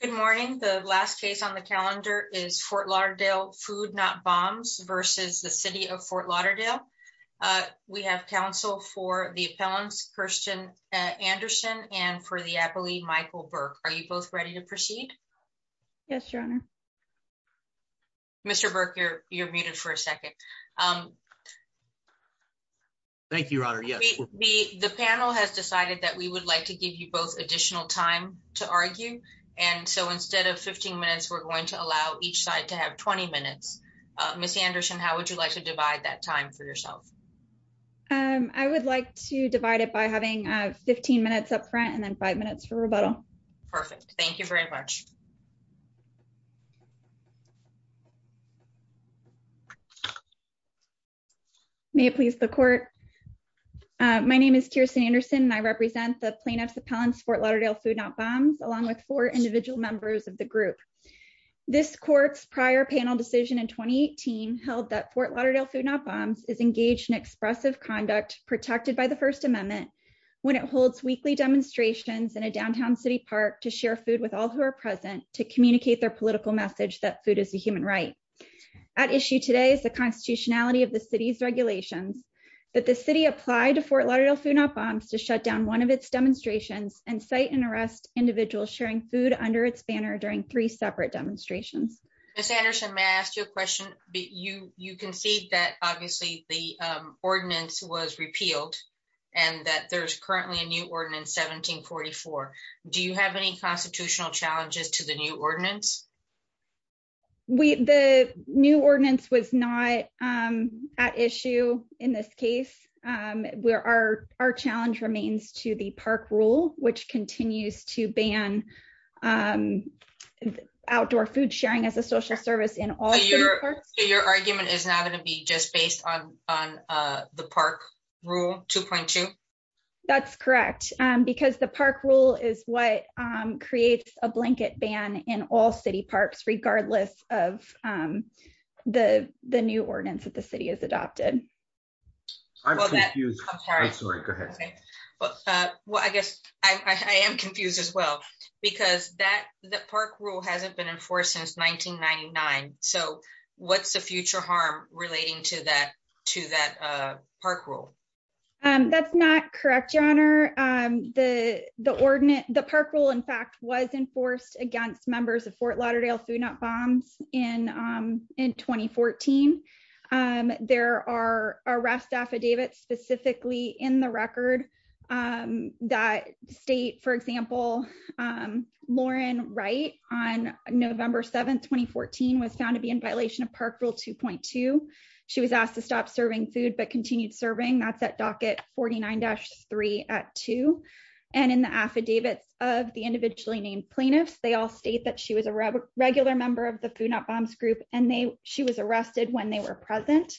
Good morning. The last case on the calendar is Fort Lauderdale Food Not Bombs v. City of Fort Lauderdale. We have counsel for the appellants, Kirsten Anderson and for the appellee, Michael Burke. Are you both ready to proceed? Yes, Your Honor. Mr. Burke, you're muted for a second. Thank you, Your Honor. The panel has decided that we would like to give you both additional time to argue. And so instead of 15 minutes, we're going to allow each side to have 20 minutes. Ms. Anderson, how would you like to divide that time for yourself? I would like to divide it by having 15 minutes up front and then five minutes for rebuttal. Perfect. Thank you very much. May it please the court. My name is Kirsten Anderson and I represent the plaintiff's Fort Lauderdale Food Not Bombs along with four individual members of the group. This court's prior panel decision in 2018 held that Fort Lauderdale Food Not Bombs is engaged in expressive conduct protected by the First Amendment when it holds weekly demonstrations in a downtown city park to share food with all who are present to communicate their political message that food is a human right. At issue today is the constitutionality of the city's regulations that the city applied to Fort Lauderdale Food Not Bombs to shut down one of demonstrations and cite and arrest individuals sharing food under its banner during three separate demonstrations. Ms. Anderson, may I ask you a question? You concede that obviously the ordinance was repealed and that there's currently a new ordinance 1744. Do you have any constitutional challenges to the new ordinance? The new ordinance was not at issue in this case. Our challenge remains to the park rule which continues to ban outdoor food sharing as a social service in all parks. So your argument is not going to be just based on the park rule 2.2? That's correct because the park rule is what creates a blanket ban in all parks. I guess I am confused as well because the park rule hasn't been enforced since 1999. So what's the future harm relating to that park rule? That's not correct, your honor. The park rule in fact was enforced against members of Fort Lauderdale Food Not Bombs in 2014. There are arrest affidavits specifically in the record that state for example Lauren Wright on November 7, 2014 was found to be in violation of park rule 2.2. She was asked to stop serving food but continued serving. That's at docket 49-3 at 2. And in the affidavits of the individually named plaintiffs they all state that she was a regular member of the Food Not Bombs group and she was when they were present.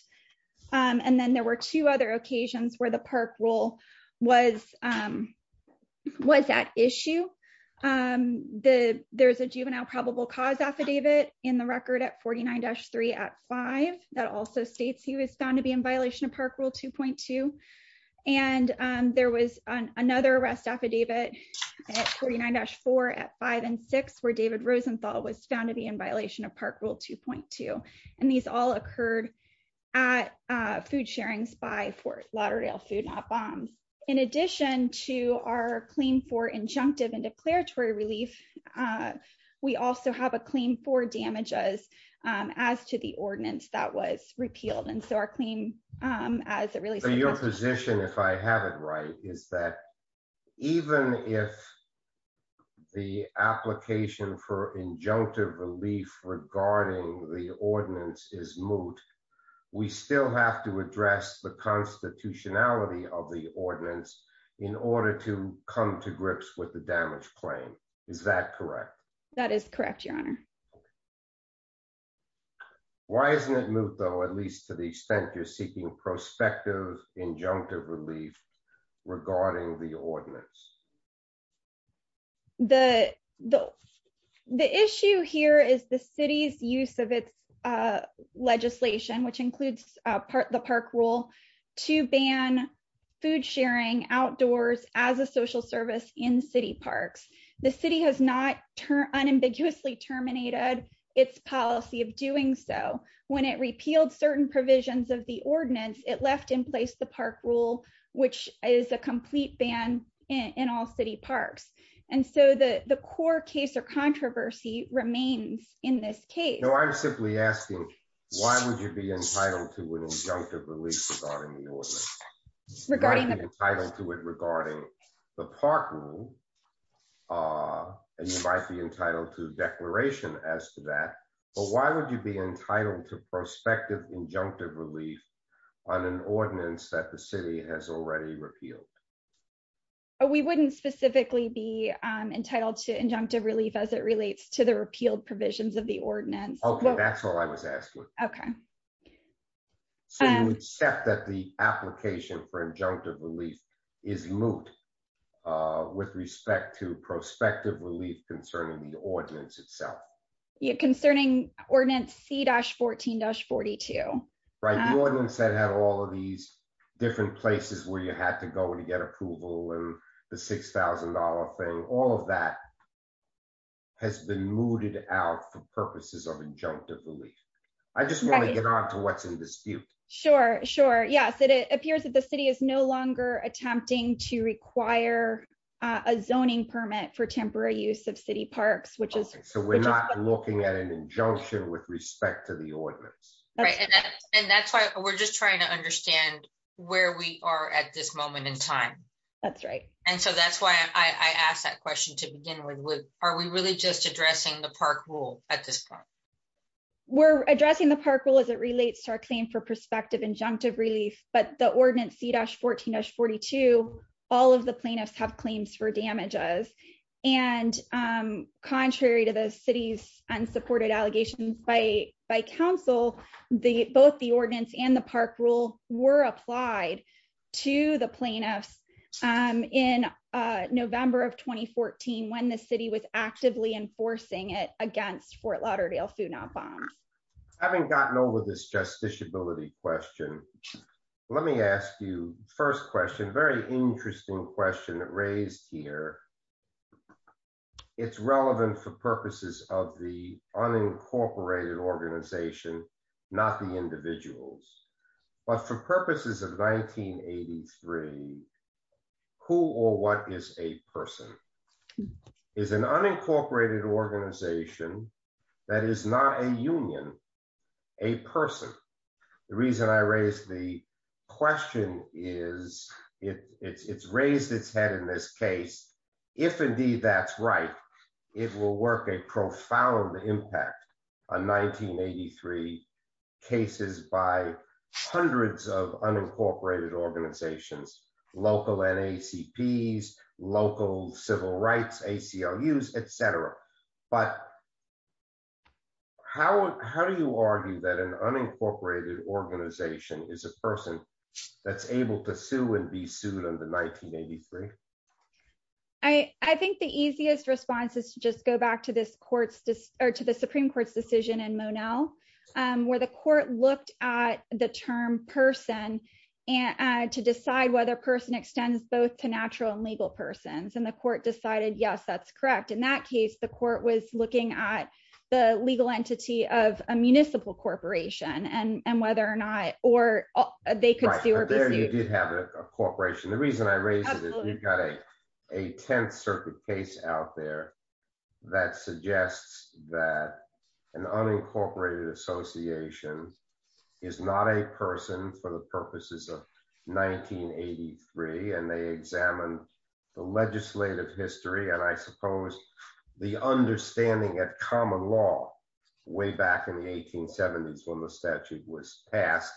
And then there were two other occasions where the park rule was at issue. There's a juvenile probable cause affidavit in the record at 49-3 at 5 that also states he was found to be in violation of park rule 2.2. And there was another arrest affidavit at 49-4 at 5 and 6 where David Rosenthal was found to be in violation of park rule 2.2. And these all occurred at food sharings by Fort Lauderdale Food Not Bombs. In addition to our claim for injunctive and declaratory relief we also have a claim for damages as to the ordinance that was repealed. And so our claim as a really... So your position if I have it right is that even if the application for injunctive relief regarding the ordinance is moot we still have to address the constitutionality of the ordinance in order to come to grips with the damaged claim. Is that correct? That is correct your honor. Why isn't it moot though at least to the extent you're seeking prospective injunctive relief regarding the ordinance? The issue here is the city's use of its legislation which includes the park rule to ban food sharing outdoors as a social service in city parks. The city has not unambiguously terminated its policy of doing so. When it repealed certain provisions of the ordinance it left in place the park rule which is a complete ban in all city parks. And so the core case or controversy remains in this case. No I'm simply asking why would you be entitled to an injunctive relief regarding the ordinance? You might be entitled to it regarding the park rule and you might be entitled to a declaration as to that but why would you be entitled to an ordinance that the city has already repealed? Oh we wouldn't specifically be entitled to injunctive relief as it relates to the repealed provisions of the ordinance. Okay that's all I was asking. Okay. So you accept that the application for injunctive relief is moot with respect to prospective relief concerning the ordinance itself? Yeah concerning ordinance c-14-42. Right the ordinance that had all of these different places where you had to go to get approval and the six thousand dollar thing all of that has been mooted out for purposes of injunctive relief. I just want to get on to what's in dispute. Sure sure yes it appears that the city is no longer attempting to require a zoning permit for temporary use of city parks which is. So we're looking at an injunction with respect to the ordinance. Right and that's why we're just trying to understand where we are at this moment in time. That's right. And so that's why I asked that question to begin with. Are we really just addressing the park rule at this point? We're addressing the park rule as it relates to our claim for prospective injunctive relief but the ordinance c-14-42 all of the plaintiffs have claims for damages and contrary to the city's unsupported allegations by by council the both the ordinance and the park rule were applied to the plaintiffs in November of 2014 when the city was actively enforcing it against Fort Lauderdale Food Not Bombs. Having gotten over this justiciability question let me ask you first question very interesting question raised here. It's relevant for purposes of the unincorporated organization not the individuals but for purposes of 1983 who or what is a person? Is an unincorporated organization that is not a union a person? The reason I raised the question is it's raised its head in this case if indeed that's right it will work a profound impact on 1983 cases by hundreds of unincorporated organizations local NAACP's local civil rights ACLU's etc but how how do you argue that an unincorporated organization is a person that's able to sue and be sued under 1983? I think the easiest response is to just go back to this court's or to the supreme court's decision in Monell where the person extends both to natural and legal persons and the court decided yes that's correct in that case the court was looking at the legal entity of a municipal corporation and and whether or not or they could sue or be sued. You did have a corporation the reason I raised it you've got a 10th circuit case out there that suggests that an unincorporated association is not a person for the purposes of 1983 and they examined the legislative history and I suppose the understanding at common law way back in the 1870s when the statute was passed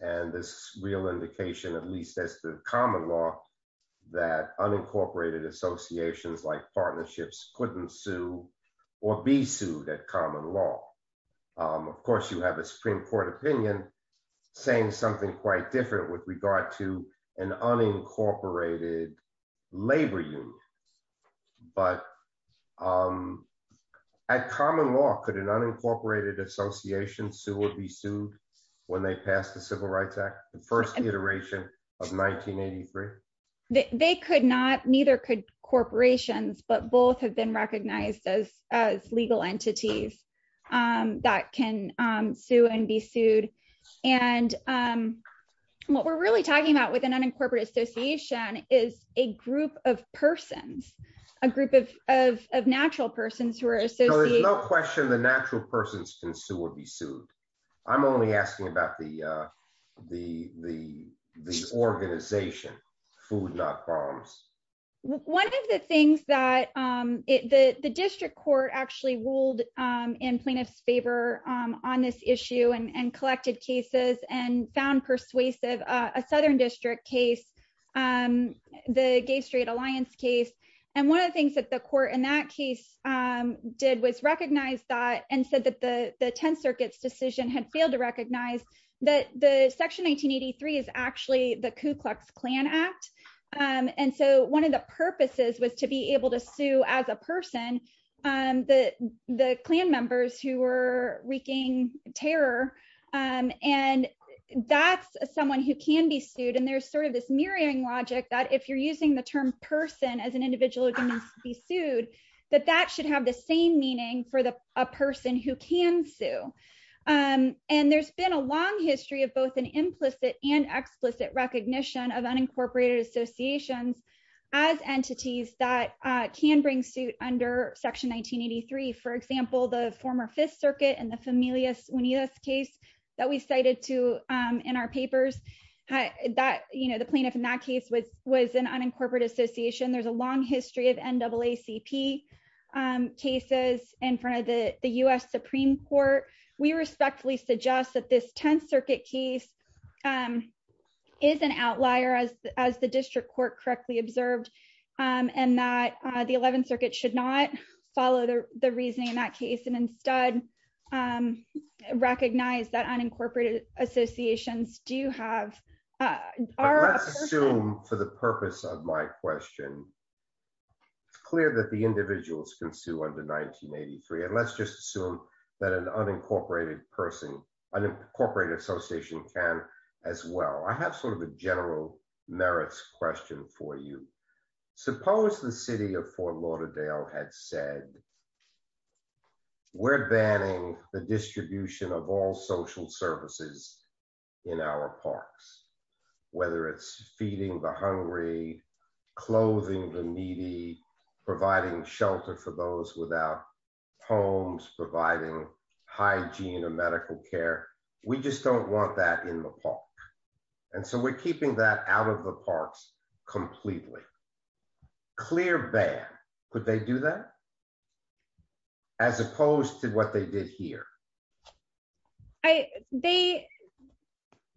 and this real indication at least as the common law that unincorporated associations like partnerships couldn't sue or be sued at common law. Of course you have a supreme court opinion saying something quite different with regard to an unincorporated labor union but at common law could an unincorporated association sue or be sued when they pass the civil rights act the first iteration of 1983? They could not neither could corporations but both have recognized as legal entities that can sue and be sued and what we're really talking about with an unincorporated association is a group of persons a group of natural persons who are associated. There's no question the natural persons can sue or be sued I'm only asking about the district court actually ruled in plaintiff's favor on this issue and collected cases and found persuasive a southern district case the gay straight alliance case and one of the things that the court in that case did was recognize that and said that the 10th circuit's decision had failed to recognize that the section 1983 is actually the Ku Klux Klan act and so one of the purposes was to be able to sue as a person the the Klan members who were wreaking terror and that's someone who can be sued and there's sort of this mirroring logic that if you're using the term person as an individual who can be sued that that should have the same meaning for the a person who can sue and there's been a long history of both an implicit and explicit recognition of unincorporated associations as entities that can bring suit under section 1983 for example the former 5th circuit and the familias unidas case that we cited to in our papers that you know the plaintiff in that case was was an unincorporated association there's a long history of NAACP cases in front of the the U.S. Supreme Court we respectfully suggest that this 10th circuit case is an outlier as the district court correctly observed and that the 11th circuit should not follow the reasoning in that case and instead recognize that unincorporated associations do have our assume for the purpose of my question it's clear that the individuals can sue under 1983 and let's just assume that an unincorporated person unincorporated association can as well I have sort of a general merits question for you suppose the city of Fort Lauderdale had said we're banning the distribution of all social services in our parks whether it's feeding the hungry clothing the needy providing shelter for those without homes providing hygiene or medical care we just don't want that in the park and so we're keeping that out of the parks completely clear ban could they do that as opposed to what they did here I they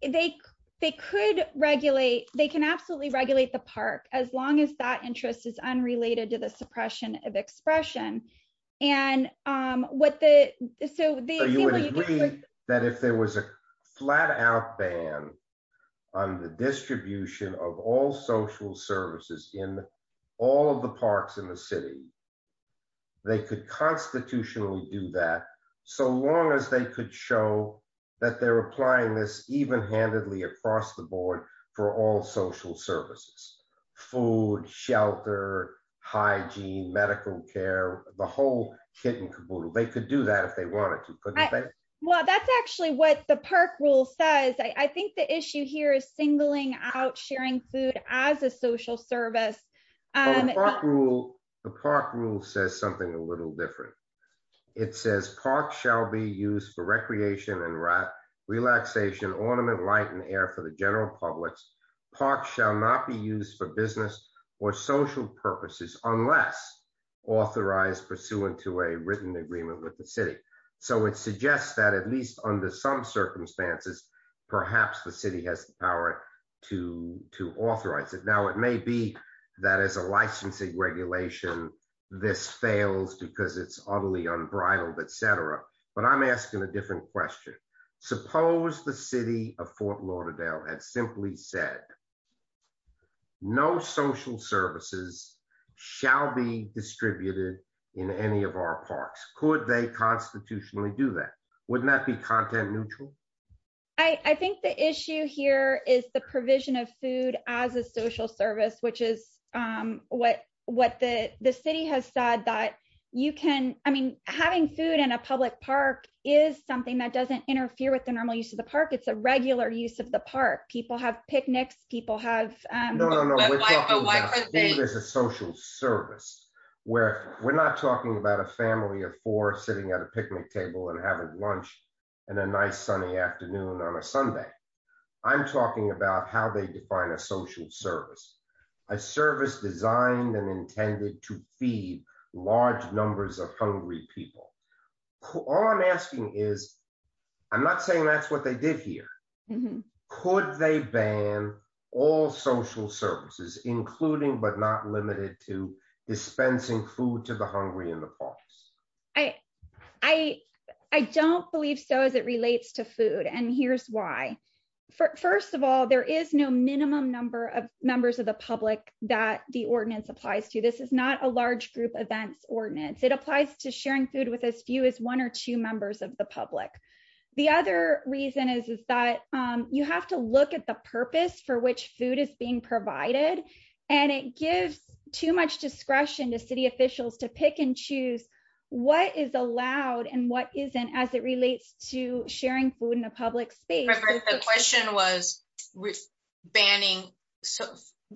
they they could regulate they can absolutely regulate the park as long as that interest is unrelated to the suppression of expression and what the so you would agree that if there was a flat out ban on the distribution of all social services in all of the parks in the city they could constitutionally do that so long as they could show that they're applying this even-handedly across the board for all social services food shelter hygiene medical care the whole kit and caboodle they could do that if they wanted to but well that's actually what the park rule says I think the issue here is singling out sharing food as a social service um the park rule says something a little different it says park shall be used for for the general public's park shall not be used for business or social purposes unless authorized pursuant to a written agreement with the city so it suggests that at least under some circumstances perhaps the city has the power to to authorize it now it may be that as a licensing regulation this fails because it's utterly unbridled etc but I'm asking a different question suppose the city of Fort Lauderdale had simply said no social services shall be distributed in any of our parks could they constitutionally do that wouldn't that be content neutral I think the issue here is the provision of food as a social service which is what what the the city has said that you can I mean having food in a public park is something that doesn't interfere with the normal use of the park it's a regular use of the park people have picnics people have um no no we're talking about food as a social service where we're not talking about a family of four sitting at a picnic table and having lunch and a nice sunny afternoon on a Sunday I'm talking about how they define a social service a service designed and intended to large numbers of hungry people all I'm asking is I'm not saying that's what they did here could they ban all social services including but not limited to dispensing food to the hungry in the parks I don't believe so as it relates to food and here's why first of all there is no minimum number of members of the public that the ordinance applies to this is not a large group events ordinance it applies to sharing food with as few as one or two members of the public the other reason is is that you have to look at the purpose for which food is being provided and it gives too much discretion to city officials to pick and choose what is allowed and what isn't as it relates to sharing food in a public space the question was banning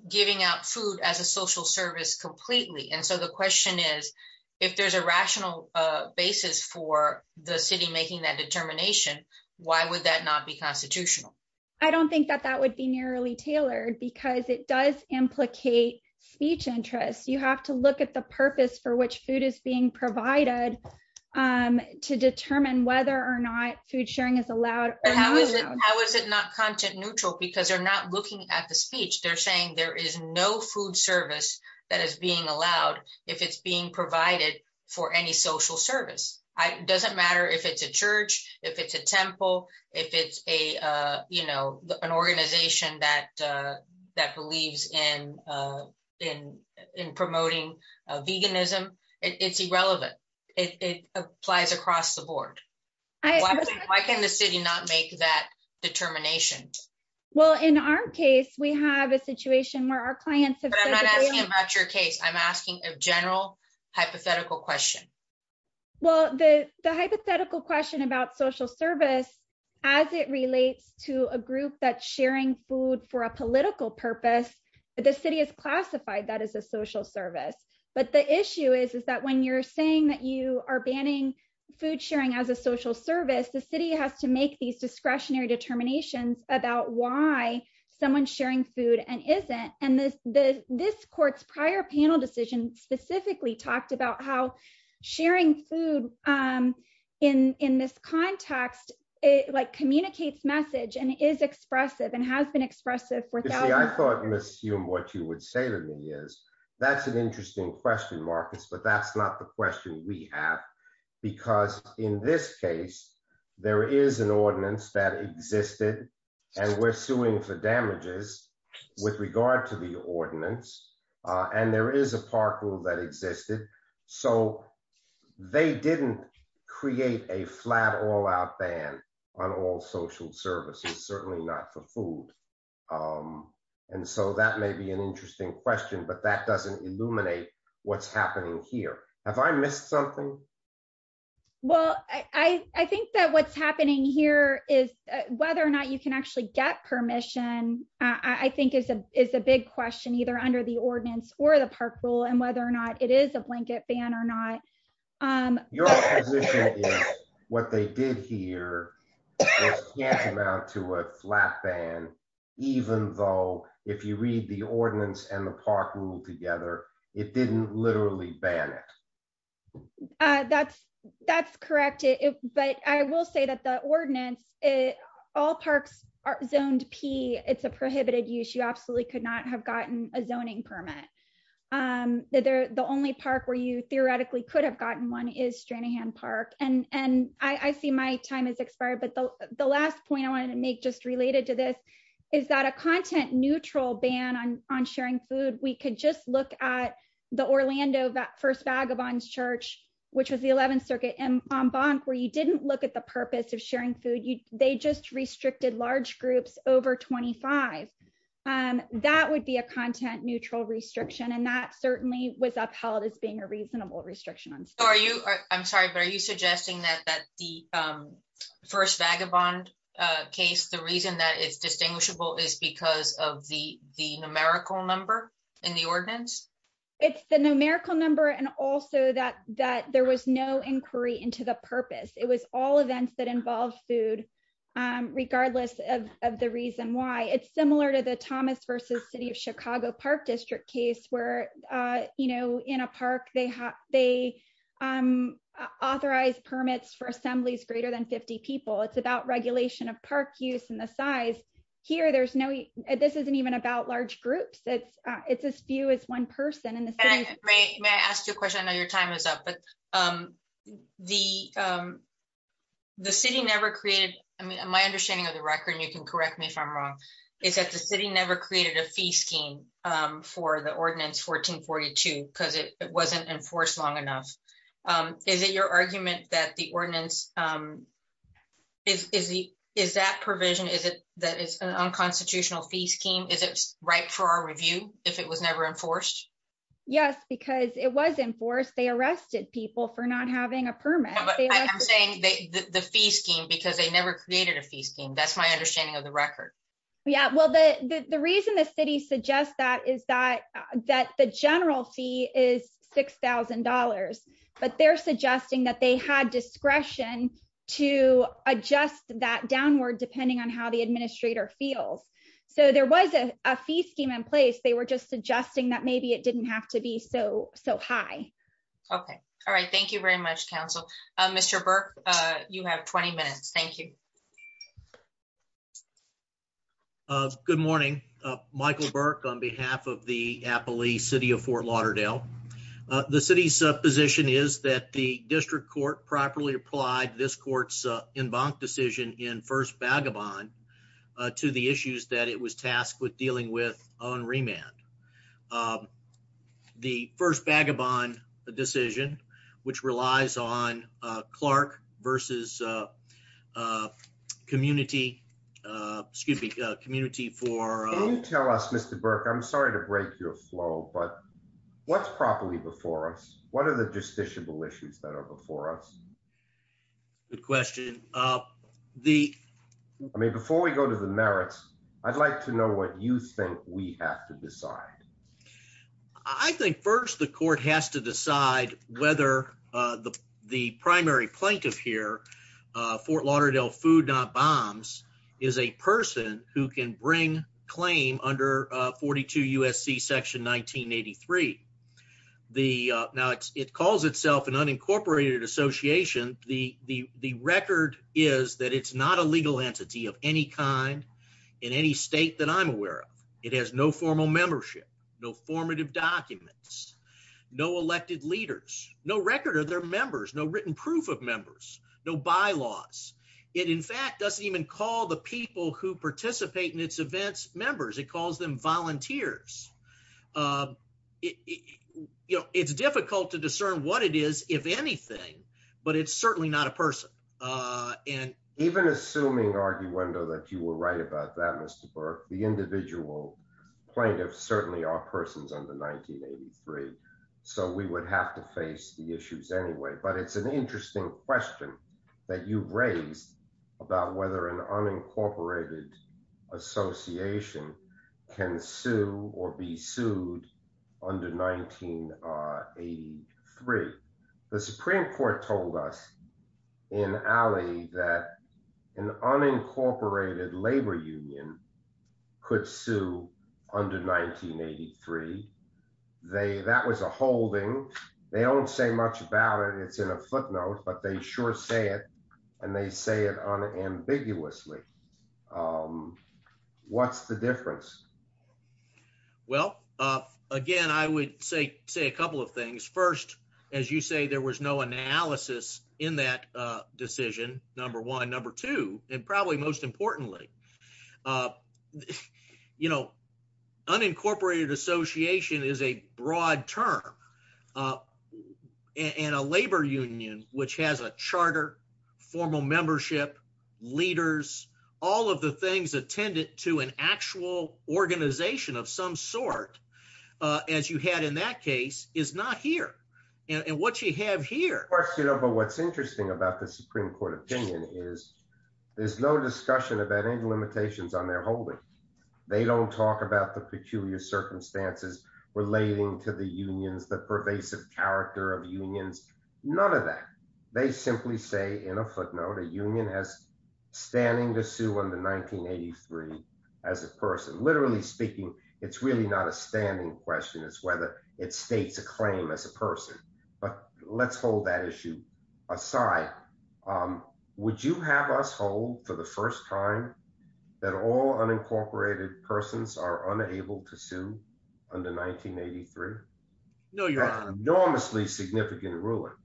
giving out food as a social service completely and so the question is if there's a rational basis for the city making that determination why would that not be constitutional I don't think that that would be nearly tailored because it does implicate speech interest you have to look at the purpose for which food is being provided to determine whether or not food sharing is allowed how is it how is it not content neutral because they're not looking at the speech they're saying there is no food service that is being allowed if it's being provided for any social service it doesn't matter if it's a church if it's a temple if it's a uh you know an organization that uh that believes in uh in in promoting veganism it's irrelevant it applies across the board why can the city not make that determination well in our case we have a situation where our clients have but i'm not asking about your case i'm asking a general hypothetical question well the the hypothetical question about social service as it relates to a group that's sharing food for a political purpose but the city has classified that as a social service but the food sharing as a social service the city has to make these discretionary determinations about why someone's sharing food and isn't and this the this court's prior panel decision specifically talked about how sharing food um in in this context it like communicates message and is expressive and has been expressive for you see i thought you assumed what you would say to me is that's an interesting question marcus but that's not the question we have because in this case there is an ordinance that existed and we're suing for damages with regard to the ordinance and there is a park rule that existed so they didn't create a flat all-out ban on all social services certainly not for food um and so that may be an interesting question but that doesn't illuminate what's happening here have i missed something well i i think that what's happening here is whether or not you can actually get permission i i think is a is a big question either under the ordinance or the park rule and whether or not it is a blanket ban or not um what they did here was can't amount to a flat ban even though if you read the ordinance and park rule together it didn't literally ban it uh that's that's correct it but i will say that the ordinance it all parks are zoned p it's a prohibited use you absolutely could not have gotten a zoning permit um that they're the only park where you theoretically could have gotten one is stranahan park and and i i see my time has expired but the the last point i wanted to make just related to this is that a content neutral ban on on sharing food we could just look at the orlando that first vagabond's church which was the 11th circuit and bonk where you didn't look at the purpose of sharing food you they just restricted large groups over 25 um that would be a content neutral restriction and that certainly was upheld as being a reasonable restriction so are you i'm sorry but are you suggesting that that the um first vagabond uh case the reason that it's distinguishable is because of the the numerical number in the ordinance it's the numerical number and also that that there was no inquiry into the purpose it was all events that involve food um regardless of of the reason why it's similar to the thomas versus city of chicago park district case where uh you know in a park they have they um authorize permits for assemblies greater than 50 people it's about regulation of park use and the size here there's no this isn't even about large groups it's uh it's as few as one person in the city may i ask you a question i know your time is up but um the um the city never created i mean my understanding of the correct me if i'm wrong is that the city never created a fee scheme um for the ordinance 1442 because it wasn't enforced long enough um is it your argument that the ordinance um is is the is that provision is it that is an unconstitutional fee scheme is it right for our review if it was never enforced yes because it was enforced they arrested people for not having a permit i'm saying they the fee scheme because they never created a fee scheme that's my understanding of the record yeah well the the reason the city suggests that is that that the general fee is six thousand dollars but they're suggesting that they had discretion to adjust that downward depending on how the administrator feels so there was a fee scheme in place they were just suggesting that maybe it didn't have to be so so high okay all right thank you very much council uh mr burke uh you have 20 minutes thank you uh good morning uh michael burke on behalf of the apple east city of fort lauderdale the city's position is that the district court properly applied this court's uh embankment decision in first vagabond to the issues that it was tasked with dealing with on remand the first vagabond a decision which relies on uh clark versus uh uh community uh excuse me uh community for can you tell us mr burke i'm sorry to break your flow but what's properly before us what are the justiciable issues that are before us good question uh the i mean before we go to the merits i'd like to know what you think we have to decide i think first the court has to decide whether uh the the primary plaintiff here uh fort lauderdale food not bombs is a person who can bring claim under uh 42 usc section 1983 the uh now it calls itself an unincorporated association the the the record is that it's not a legal entity of any kind in any state that i'm aware of it has no formal membership no formative documents no elected leaders no record of their members no written proof of members no bylaws it in fact doesn't even call the people who participate in its events members it calls them volunteers uh it you know it's difficult to discern what it is if anything but it's certainly not a person uh and even assuming arguendo that you were right about that mr burke the individual plaintiffs certainly are persons under 1983 so we would have to face the issues anyway but it's an interesting question that you've raised about whether an unincorporated association can sue or be sued under 1983 the supreme court told us in alley that an unincorporated labor union could sue under 1983 they that was a holding they don't say much about it it's in a footnote but they sure say it and they say it unambiguously um what's the difference well uh again i would say say a couple of things first as you say there was no analysis in that uh decision number one number two and probably most importantly uh you know unincorporated association is a broad term uh and a labor union which has a charter formal membership leaders all of the things attendant to an actual organization of some sort uh as you had in that case is not here and what you have here but what's interesting about the supreme court opinion is there's no discussion about any limitations on their holding they don't talk about the peculiar circumstances relating to the unions the pervasive character of unions none of that they simply say in a footnote a union has standing to sue under 1983 as a person literally speaking it's really not a standing question it's whether it states a claim as a person but let's hold that issue aside um would you have us hold for the first time that all unincorporated persons are unable to sue under 1983 no you're an enormously significant ruler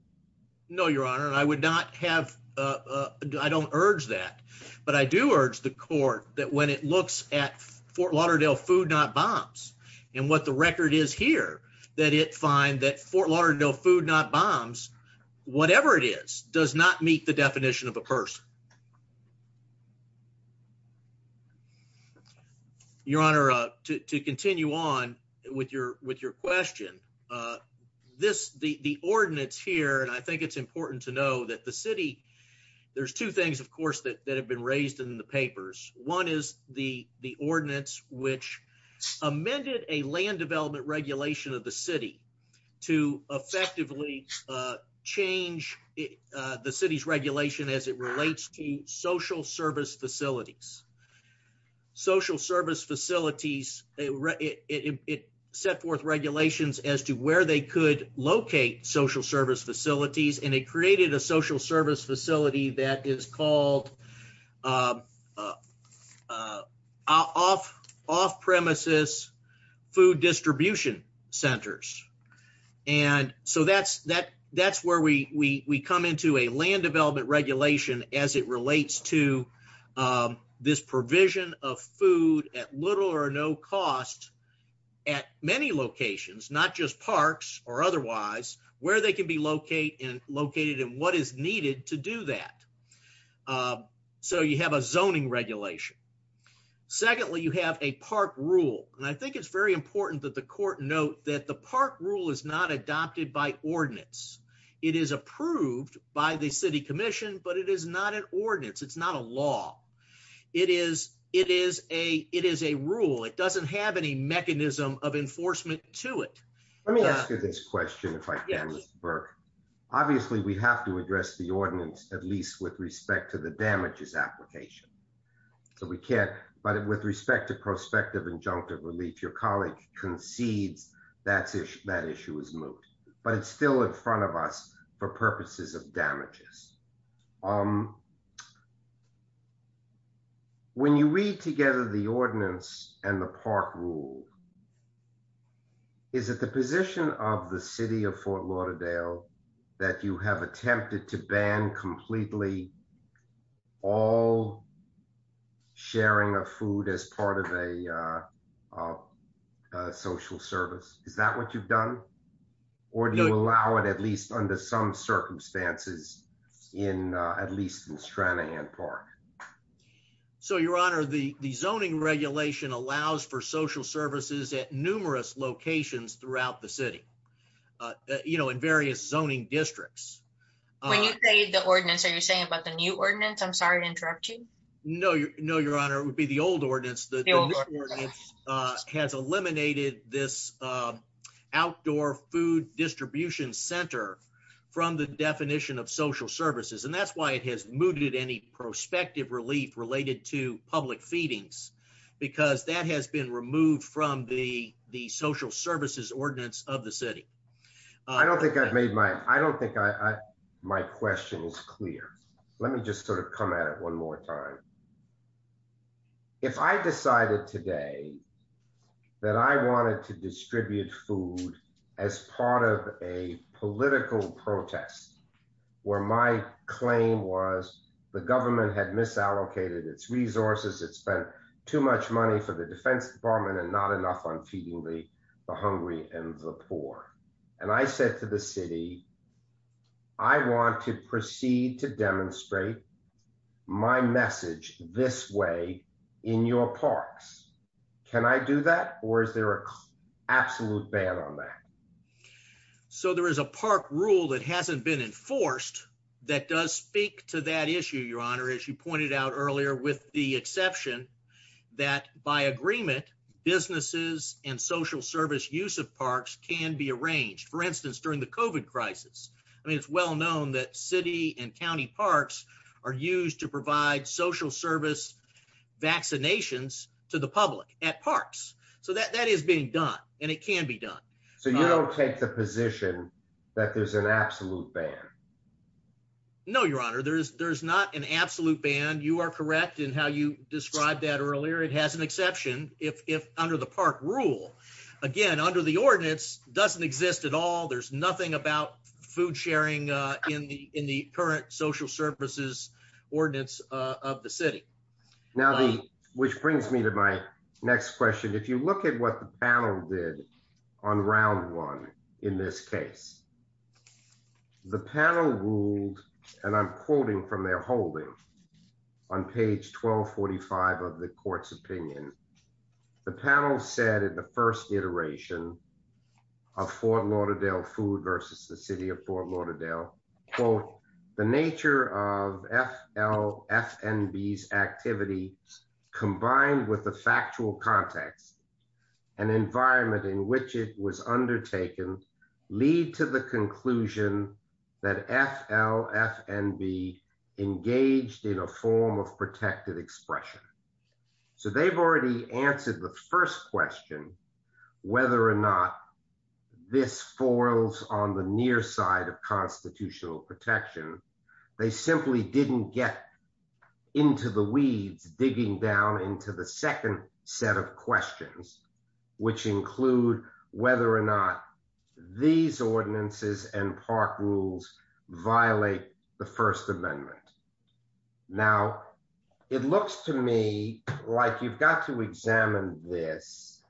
no your honor and i would not have uh i don't urge that but i do urge the court that when it looks at fort lauderdale food not bombs and what the record is here that it find that fort lauderdale food not bombs whatever it is does not meet the definition of a person your honor uh to to continue on with your with your question uh this the the ordinance here and i think it's important to know that the city there's two things of course that have been raised in the papers one is the the ordinance which amended a land development regulation of the city to effectively change the city's regulation as it relates to social service facilities social service facilities it set forth regulations as to where they could locate social service facilities and it created a social service facility that is called uh uh off off-premises food distribution centers and so that's that that's where we we we come into a land development regulation as it relates to um this provision of food at little or no cost at many locations not just parks or otherwise where they can be locate and located and what is needed to do that uh so you have a zoning regulation secondly you have a park rule and i think it's very important that the court note that the park rule is not adopted by ordinance it is approved by the city commission but it is not an ordinance it's not a law it is it is a it is a rule it doesn't have any mechanism of enforcement to it let me ask you question if i can obviously we have to address the ordinance at least with respect to the damages application so we can't but with respect to prospective injunctive relief your colleague concedes that's that issue is moved but it's still in front of us for purposes of damages um when you read together the ordinance and the park rule is it the position of the city of fort lauderdale that you have attempted to ban completely all sharing of food as part of a uh uh social service is that what you've done or do you allow it at least under some circumstances in uh at least in stranahan park so your honor the the zoning regulation allows for social services at numerous locations throughout the city uh you know in various zoning districts when you say the ordinance are you saying about the new ordinance i'm sorry to interrupt you no you know your honor it would be the old ordinance the ordinance uh has eliminated this uh outdoor food distribution center from the definition of social services and that's why it has mooted any prospective relief related to public feedings because that has been removed from the the social services ordinance of the city i don't think i've made my i don't think i i my question is clear let me just sort of come at it one more time if i decided today that i wanted to distribute food as part of a political protest where my claim was the government had misallocated its resources it spent too much money for the defense department and not enough on feeding the the hungry and the poor and i said to the city i want to proceed to demonstrate my message this way in your parks can i do that or is there a absolute ban on that so there is a park rule that hasn't been enforced that does speak to that issue your honor as you pointed out earlier with the exception that by agreement businesses and social service use of parks can be arranged for instance during the covid crisis i mean it's well known that city and county parks are used to provide social service vaccinations to the public at parks so that that is being done and it can be done so you don't take the position that there's an absolute ban no your honor there's there's not an absolute ban you are correct in how you described that earlier it has an exception if if under the park rule again under the ordinance doesn't exist at all there's nothing about food sharing uh in the in the current social services ordinance uh of the city now the which brings me to my next question if you look at what the panel did on round one in this case the panel ruled and i'm quoting from their holding on page 1245 of the court's opinion the panel said in the first iteration of fort lauderdale food versus the city of fort lauderdale quote the nature of f l f n b's activity combined with the factual context an environment in which it was undertaken lead to the conclusion that f l f n b engaged in a form of protected expression so they've already answered the first question whether or not this foils on the near side of digging down into the second set of questions which include whether or not these ordinances and park rules violate the first amendment now it looks to me like you've got to examine this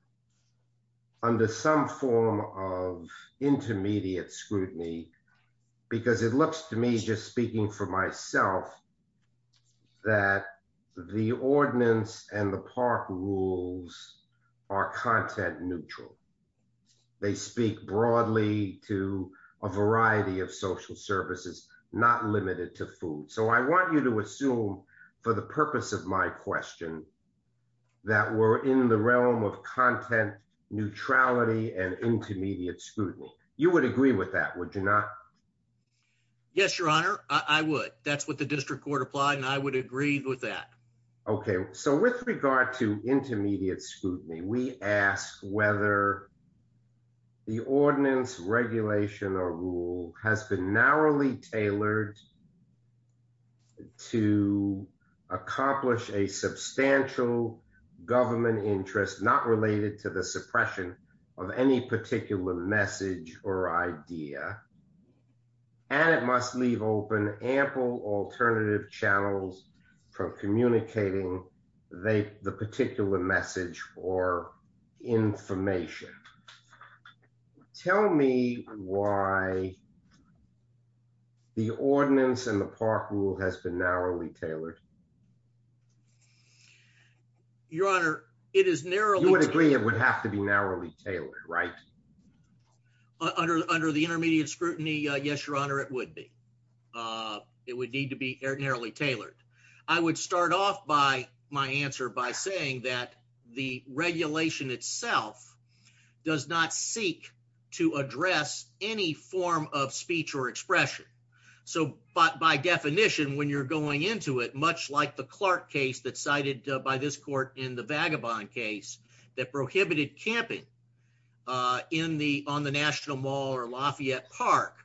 under some form of intermediate scrutiny because it looks to me just speaking for myself that the ordinance and the park rules are content neutral they speak broadly to a variety of social services not limited to food so i want you to assume for the purpose of my question that we're in the realm of content neutrality and intermediate scrutiny you would agree with that would you not yes your honor i would that's what the district court applied and i would agree with that okay so with regard to intermediate scrutiny we ask whether the ordinance regulation or rule has been narrowly tailored to accomplish a substantial government interest not related to the suppression of any particular message or idea and it must leave open ample alternative channels for communicating they the particular message or information tell me why the ordinance and the park rule has been narrowly tailored your honor it is narrow you would agree it would have to be narrowly tailored right under under the intermediate scrutiny uh yes your honor it would be uh it would need to be narrowly tailored i would start off by my answer by saying that the regulation itself does not seek to address any form of speech or expression so but by definition when you're going into it much like the clark case that cited by this court in the vagabond case that prohibited camping uh in the on the national mall or lafayette park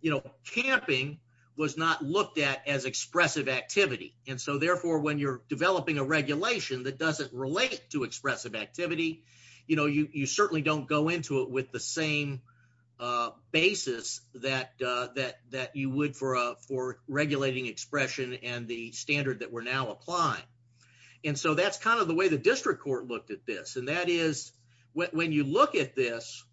you know camping was not looked at as expressive activity and so therefore when you're developing a regulation that doesn't relate to expressive activity you know you you certainly don't go into it with the same uh basis that uh that that you for regulating expression and the standard that we're now applying and so that's kind of the way the district court looked at this and that is when you look at this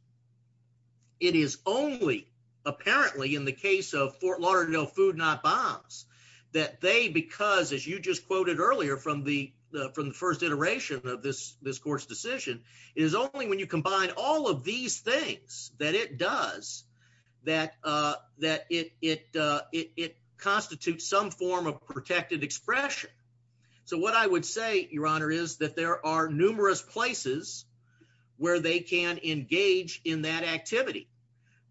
it is only apparently in the case of fort lauderdale food not bombs that they because as you just quoted earlier from the from the first iteration of this this court's decision is only when you combine all of these things that it does that uh that it it uh it constitutes some form of protected expression so what i would say your honor is that there are numerous places where they can engage in that activity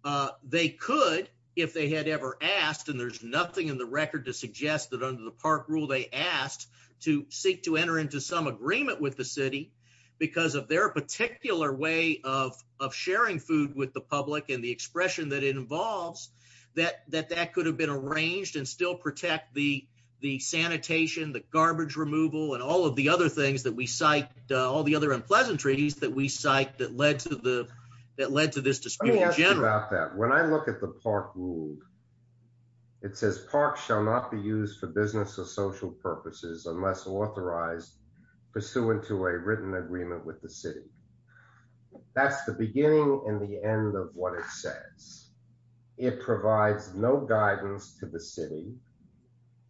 uh they could if they had ever asked and there's nothing in the record to suggest that under the park rule they asked to seek to enter into some agreement with the city because of their particular way of of sharing food with the public and the expression that it involves that that that could have been arranged and still protect the the sanitation the garbage removal and all of the other things that we cite all the other unpleasantries that we cite that led to the that led to this dispute about that when i look at the park rule it says park shall not be used for business or social purposes unless authorized pursuant to a written agreement with the city that's the beginning and the end of what it says it provides no guidance to the city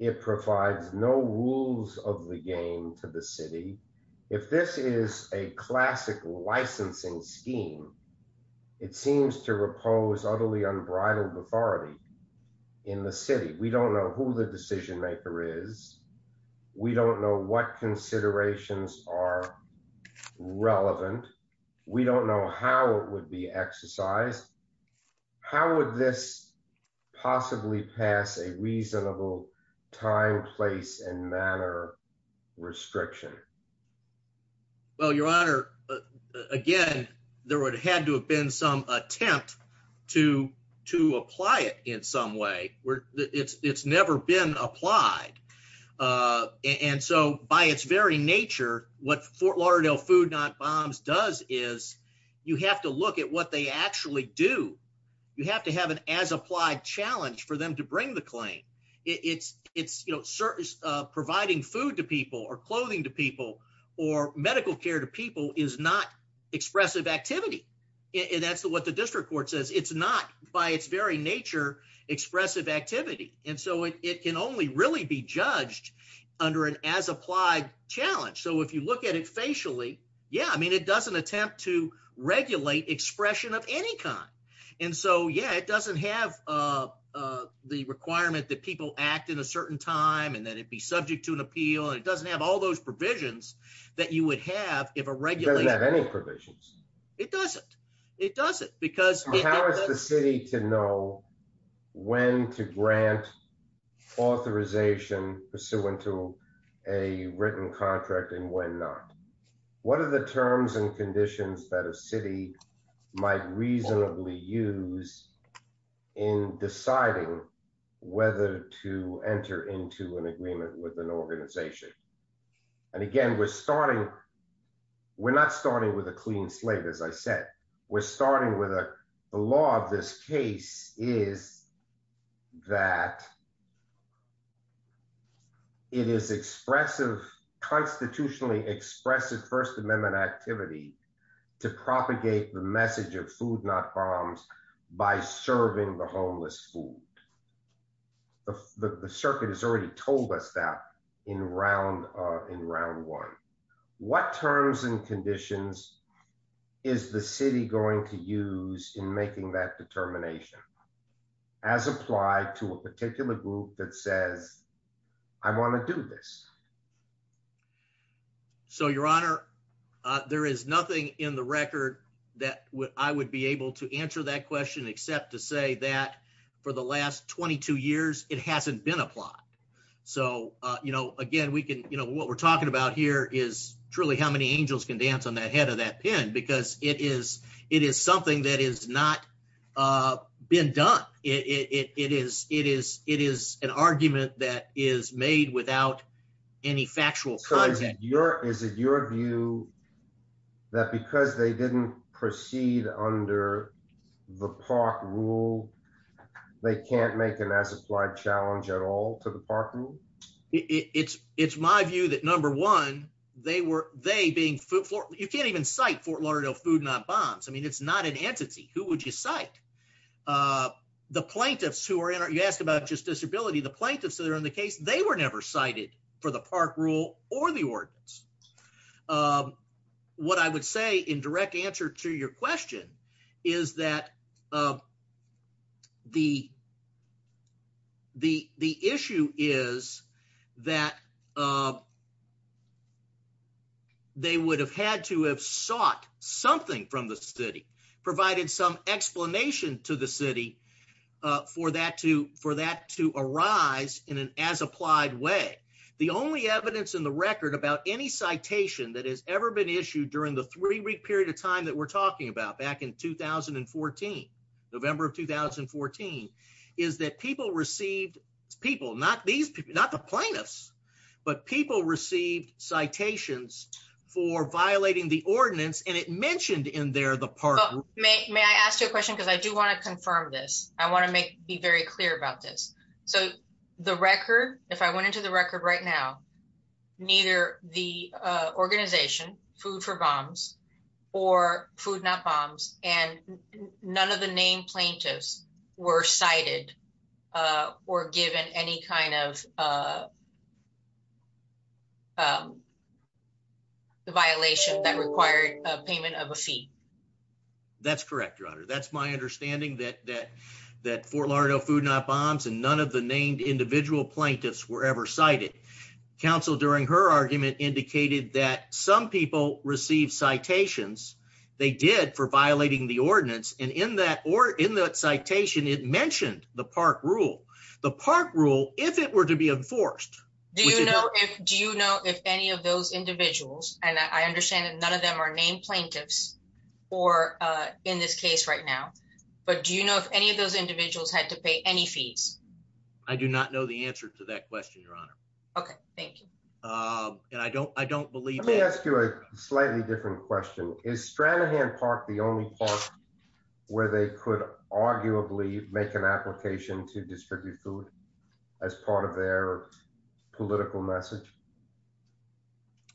it provides no rules of the game to the city if this is a in the city we don't know who the decision maker is we don't know what considerations are relevant we don't know how it would be exercised how would this possibly pass a reasonable time place and manner restriction well your honor again there would have had to have been some attempt to to apply it in some way where it's it's never been applied uh and so by its very nature what fort lauderdale food not bombs does is you have to look at what they actually do you have to have an as applied challenge for them to bring the claim it's it's you know providing food to people or clothing to people or medical care to people is not expressive activity and that's what the district court says it's not by its very nature expressive activity and so it it can only really be judged under an as applied challenge so if you look at it facially yeah i mean it doesn't attempt to regulate expression of any kind and so yeah it doesn't have uh uh the requirement that people act in a certain time and that it be subject to an appeal and it doesn't all those provisions that you would have if a regulator has any provisions it doesn't it doesn't because how is the city to know when to grant authorization pursuant to a written contract and when not what are the terms and conditions that a city might reasonably use in deciding whether to enter into an agreement with an organization and again we're starting we're not starting with a clean slate as i said we're starting with a the law of this case is that it is expressive constitutionally expressive first amendment activity to propagate the message of food not bombs by serving the homeless food the the circuit has already told us that in round uh in round one what terms and conditions is the city going to use in making that determination as applied to a particular group that says i want to do this so your honor uh there is nothing in the record that would i would be able to answer that question except to say that for the last 22 years it hasn't been applied so uh you know again we can you know what we're talking about here is truly how many angels can dance on the head of that pin because it is it is something that is not uh been done it it it is it is it is an argument that is made without any factual content your is it your view that because they didn't proceed under the park rule they can't make an as applied challenge at all to the park rule it's it's my view that number one they were they being food for you can't even cite fort lauderdale food not bombs i mean it's not an entity who would you cite uh the plaintiffs who are in you ask about just disability the plaintiffs that are in the case they were never cited for the park rule or the ordinance um what i would say in direct answer to your question is that the the the issue is that um they would have had to have sought something from the city provided some explanation to the city uh for that to for that to arise in an as applied way the only evidence in the record about any citation that has ever been issued during the three week period of time that we're talking about back in 2014 november of 2014 is that people received people not these not the plaintiffs but people received citations for violating the ordinance and it mentioned in there the park may i ask you a question because i do want to confirm this i want to make be very clear about this so the record if i went into the record right now neither the uh organization food for bombs or food not bombs and none of the named plaintiffs were cited uh or given any kind of uh um the violation that required a payment of a fee that's correct your honor that's my understanding that that that fort lauderdale food not bombs and none of the named individual plaintiffs were ever cited council during her argument indicated that some people received citations they did for it mentioned the park rule the park rule if it were to be enforced do you know if do you know if any of those individuals and i understand that none of them are named plaintiffs or uh in this case right now but do you know if any of those individuals had to pay any fees i do not know the answer to that question your honor okay thank you um and i don't i don't believe let me ask you slightly different question is stranahan park the only park where they could arguably make an application to distribute food as part of their political message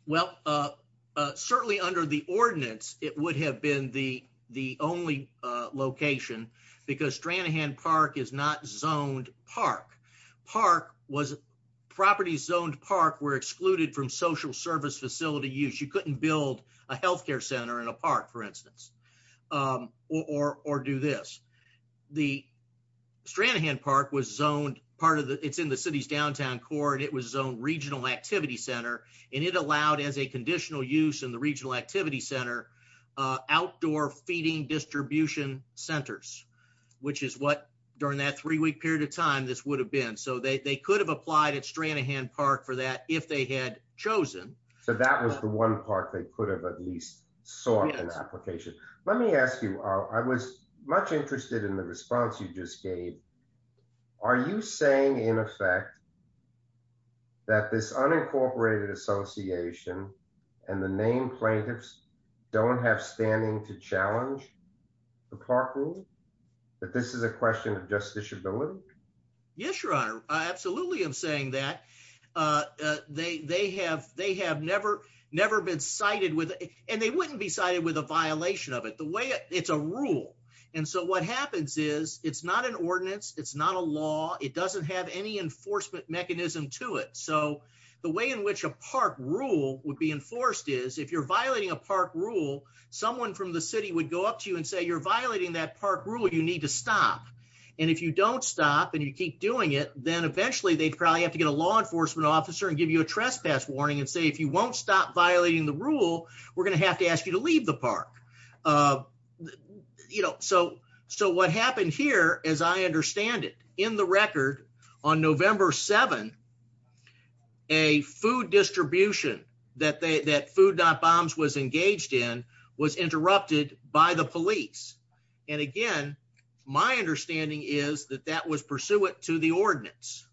well uh uh certainly under the ordinance it would have been the the only uh location because stranahan park is not zoned park park was property zoned park were excluded from social service facility use you couldn't build a health care center in a park for instance um or or do this the stranahan park was zoned part of the it's in the city's downtown core and it was zoned regional activity center and it allowed as a conditional use in the regional activity center uh outdoor feeding distribution centers which is what during that three-week period of time this would have been so they they could have applied at stranahan park for that if they had chosen so that was the one part they could have at least sought an application let me ask you i was much interested in the response you just gave are you saying in effect that this unincorporated association and the named plaintiffs don't have standing to challenge the park rule that this is a question of justiciability yes your honor i absolutely am saying that uh they they have they have never never been cited with and they wouldn't be cited with a violation of it the way it's a rule and so what happens is it's not an ordinance it's not a law it doesn't have any enforcement mechanism to it so the way in which a park rule would be enforced is if you're violating a park rule someone from the city would go up to you and say you're violating that park rule you need to stop and if you don't stop and you keep doing it then eventually they'd probably have to get a law officer and give you a trespass warning and say if you won't stop violating the rule we're going to have to ask you to leave the park uh you know so so what happened here as i understand it in the record on november 7 a food distribution that they that food not bombs was engaged in was interrupted by the police and again my understanding is that that was pursuant to the ordinance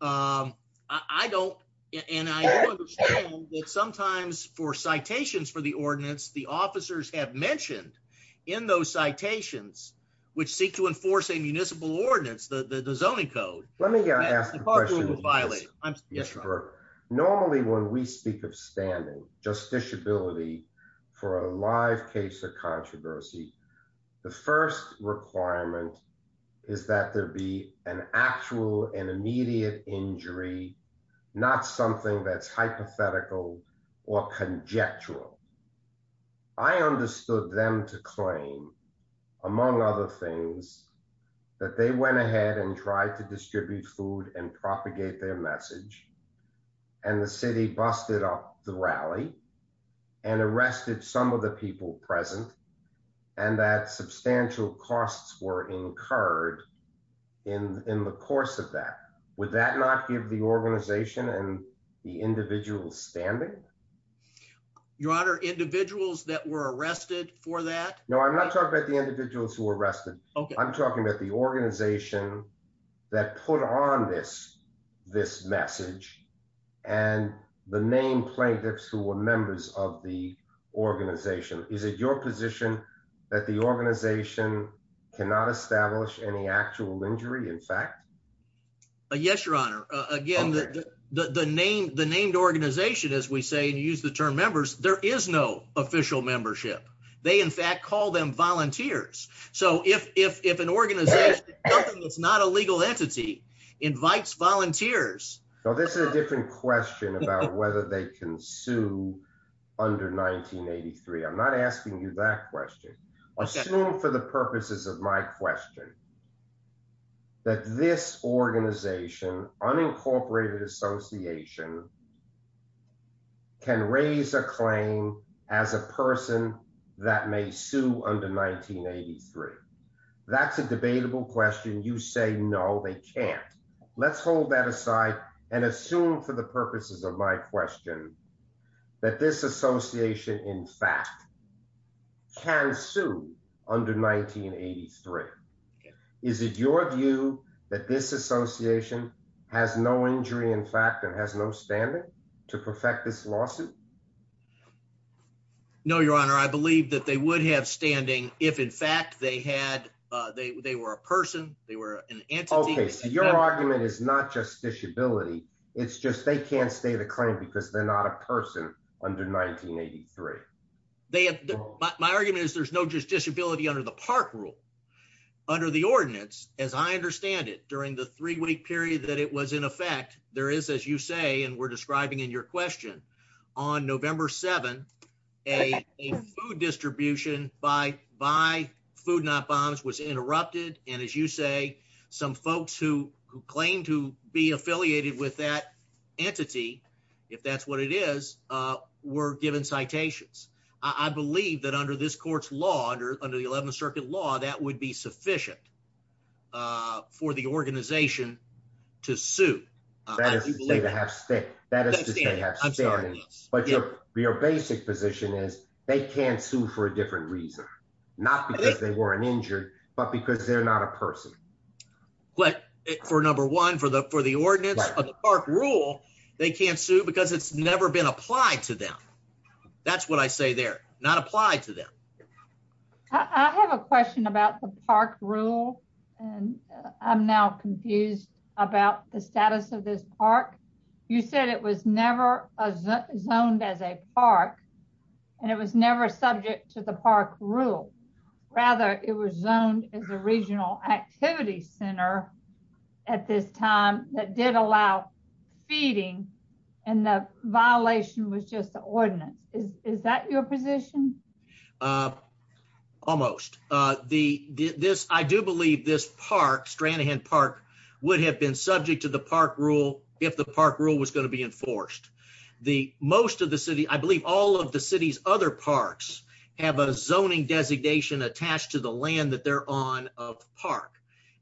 um i don't and i understand that sometimes for citations for the ordinance the officers have mentioned in those citations which seek to enforce a municipal ordinance the the zoning code let me ask normally when we speak of standing justiciability for a live case of controversy the first requirement is that there be an actual and immediate injury not something that's hypothetical or conjectural i understood them to claim among other things that they went ahead and tried to distribute food and propagate their message and the city busted up the rally and that substantial costs were incurred in in the course of that would that not give the organization and the individual standing your honor individuals that were arrested for that no i'm not talking about the individuals who were arrested okay i'm talking about the organization that put on this this message and the name plaintiffs who were members of the organization is it your position that the organization cannot establish any actual injury in fact yes your honor again the the name the named organization as we say and use the term members there is no official membership they in fact call them volunteers so if if if an organization something that's not a legal entity invites volunteers so this is a different question about whether they can sue under 1983 i'm not asking you that question assume for the purposes of my question that this organization unincorporated association can raise a claim as a person that may sue under 1983 that's a debatable question you say no they can't let's hold that aside and assume for the purposes of my question that this association in fact can sue under 1983 is it your view that this association has no injury in fact and has no standing to perfect this lawsuit no your honor i believe that they would have standing if in fact they had uh they they were a person they were an entity okay so your argument is not just disability it's just they can't stay the claim because they're not a person under 1983 they have my argument is there's no just disability under the park rule under the ordinance as i understand it during the three-week period that it was in effect there is as you say and we're describing in your question on november 7 a food distribution by by food not bombs was interrupted and as you say some folks who who claim to be affiliated with that entity if that's what it is uh were given citations i believe that under this court's law under under the 11th circuit law that would be sufficient uh for the organization to sue that is to say to have stick that is to say i'm sorry but your your basic position is they can't sue for a different reason not because they but because they're not a person but for number one for the for the ordinance of the park rule they can't sue because it's never been applied to them that's what i say they're not applied to them i have a question about the park rule and i'm now confused about the status of this park you said it was never zoned as a park and it was never subject to the park rule rather it was zoned as a regional activity center at this time that did allow feeding and the violation was just the ordinance is is that your position uh almost uh the this i do believe this park stranahan park would have been subject to the park rule if the park rule was going to be enforced the most of the city i believe all of the city's other parks have a zoning designation attached to the land that they're on of park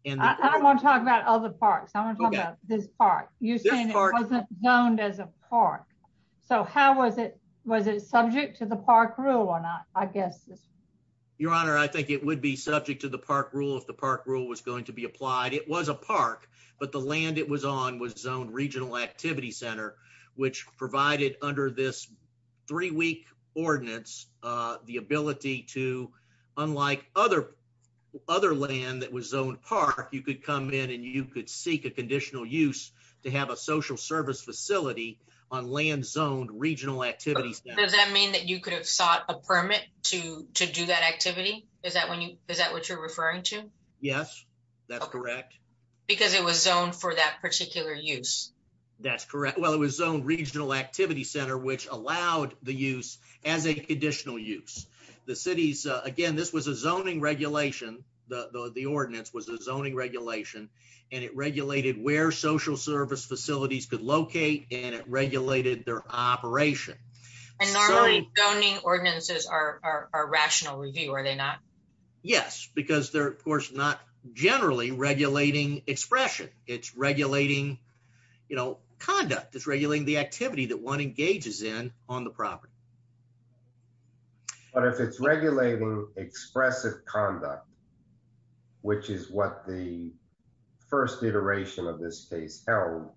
and i don't want to talk about other parks i want to talk about this park you're saying it wasn't zoned as a park so how was it was it subject to the park rule or not i guess your honor i think it would be subject to the park rule if the park rule was going to be applied it was a park but the land it was on was zoned center which provided under this three-week ordinance uh the ability to unlike other other land that was zoned park you could come in and you could seek a conditional use to have a social service facility on land zoned regional activities does that mean that you could have sought a permit to to do that activity is that when you is that what you're referring to yes that's correct because it was zoned for that particular use that's correct well it was zoned regional activity center which allowed the use as a conditional use the city's uh again this was a zoning regulation the the ordinance was a zoning regulation and it regulated where social service facilities could locate and it regulated their operation and normally zoning ordinances are are rational review are they not yes because they're of course not generally regulating expression it's regulating you know conduct is regulating the activity that one engages in on the property but if it's regulating expressive conduct which is what the first iteration of this case held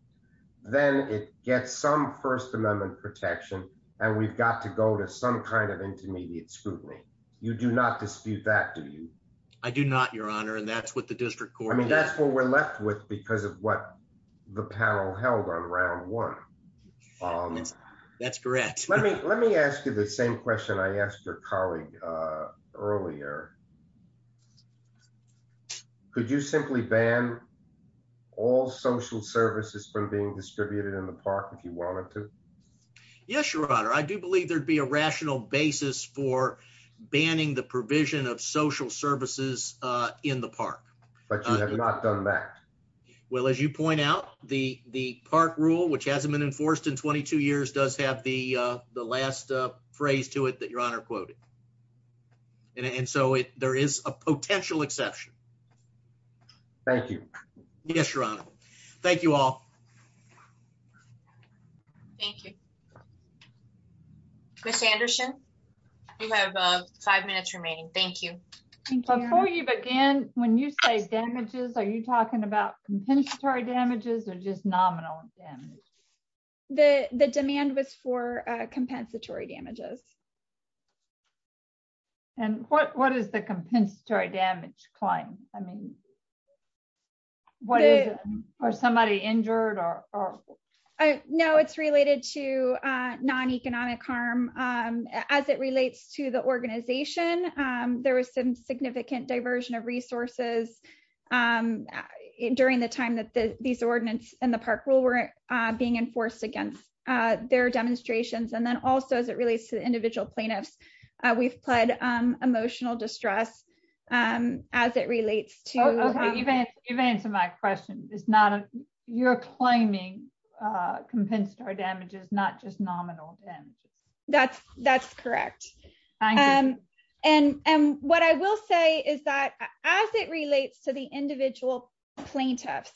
then it gets some first amendment protection and we've got to go to some kind of intermediate scrutiny you do not dispute that do you i do not your honor and that's what the district court i mean that's what we're left with because of what the panel held on round one um that's correct let me let me ask you the same question i asked your colleague uh earlier could you simply ban all social services from being distributed in the park if you wanted to yes your honor i do believe there'd be a rational basis for banning the provision of social services uh in the park but you have not done that well as you point out the the park rule which hasn't been enforced in 22 years does have the uh the last uh phrase to it that your honor quoted and so it there is a potential exception thank you yes your honor thank you all thank you miss anderson you have five minutes remaining thank you before you begin when you say damages are you talking about compensatory damages or just nominal damage the the demand was for uh compensatory damages and what what is the compensatory damage claim i mean what is it or somebody injured or or i know it's related to uh non-economic harm um as it relates to the organization um there was some significant diversion of resources um during the time that the these ordinance and the park rule were uh being enforced against uh their demonstrations and then also as it relates to individual plaintiffs uh we've pled um emotional distress um as it relates to okay you've answered my question it's not a you're claiming uh compensatory damages not just nominal damage that's that's correct um and and what i will say is that as it relates to the individual plaintiffs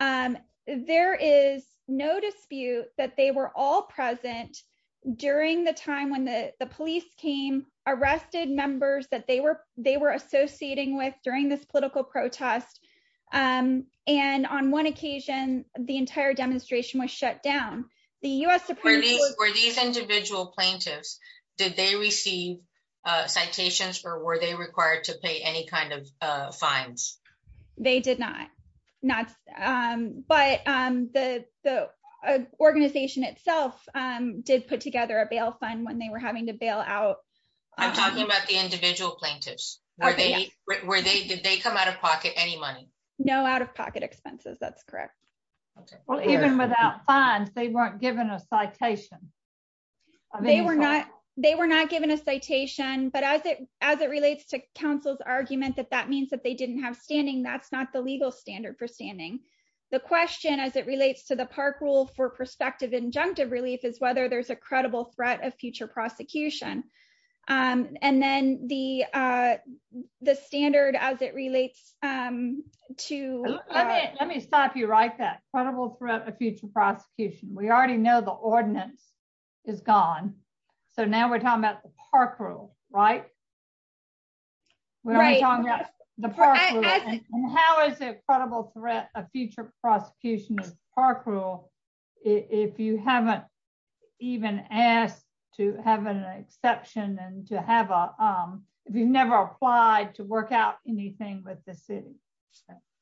um there is no dispute that they were all present during the time when the the police came arrested members that they were they were associating with during this political protest um and on one occasion the entire demonstration was shut down the u.s were these individual plaintiffs did they receive uh citations or were they required to pay any kind of uh fines they did not not um but um the the organization itself um did put together a bail fund when they were having to bail out i'm talking about the individual plaintiffs were they were they did they come out of pocket any money no out-of-pocket expenses that's correct okay well even without fines they weren't given a citation they were not they were not given a citation but as it relates to council's argument that that means that they didn't have standing that's not the legal standard for standing the question as it relates to the park rule for prospective injunctive relief is whether there's a credible threat of future prosecution um and then the uh the standard as it relates um to let me stop you write that credible threat of future prosecution we already know the ordinance is gone so now we're talking about the park rule right we're talking about the park rule and how is it credible threat a future prosecution of park rule if you haven't even asked to have an exception and to have a um if you've never applied to work out anything with the city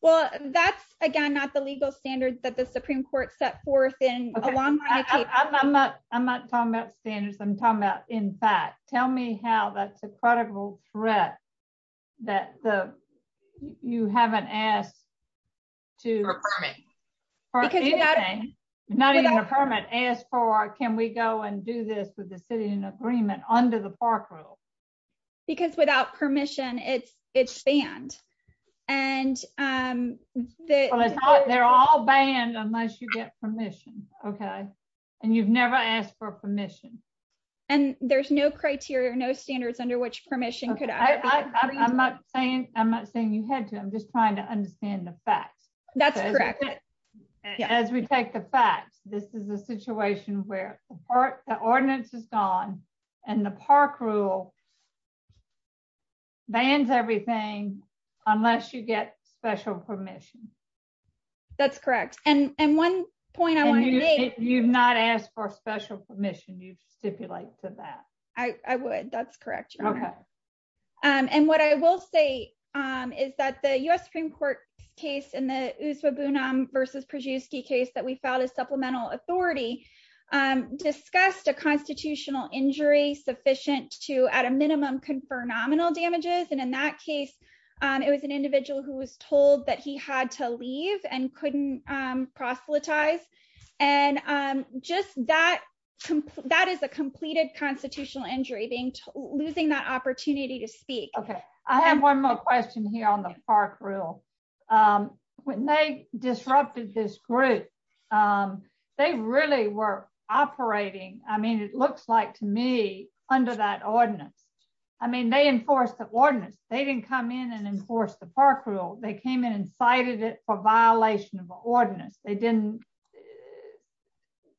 well that's again not the legal standard that the supreme court set forth in a long time i'm not i'm not talking about standards i'm talking about in fact tell me how that's a credible threat that the you haven't asked to for anything not even a permit as for can we go and do this with the city in agreement under the park rule because without permission it's it's banned and um they're all banned unless you get permission okay and you've standards under which permission could i i'm not saying i'm not saying you had to i'm just trying to understand the facts that's correct as we take the facts this is a situation where the ordinance is gone and the park rule bans everything unless you get special permission that's correct and and one point i want to make you've not asked for special permission you stipulate to that i i would that's correct okay um and what i will say um is that the u.s supreme court case in the uswa bunam versus przewski case that we filed as supplemental authority um discussed a constitutional injury sufficient to at a minimum confer nominal damages and in that case um it was an individual who was told that he had to leave and couldn't proselytize and um just that that is a completed constitutional injury being losing that opportunity to speak okay i have one more question here on the park rule um when they disrupted this group um they really were operating i mean it looks like to me under that ordinance i mean they enforced the ordinance they didn't come in and enforce the park rule they came in and cited it for violation of the ordinance they didn't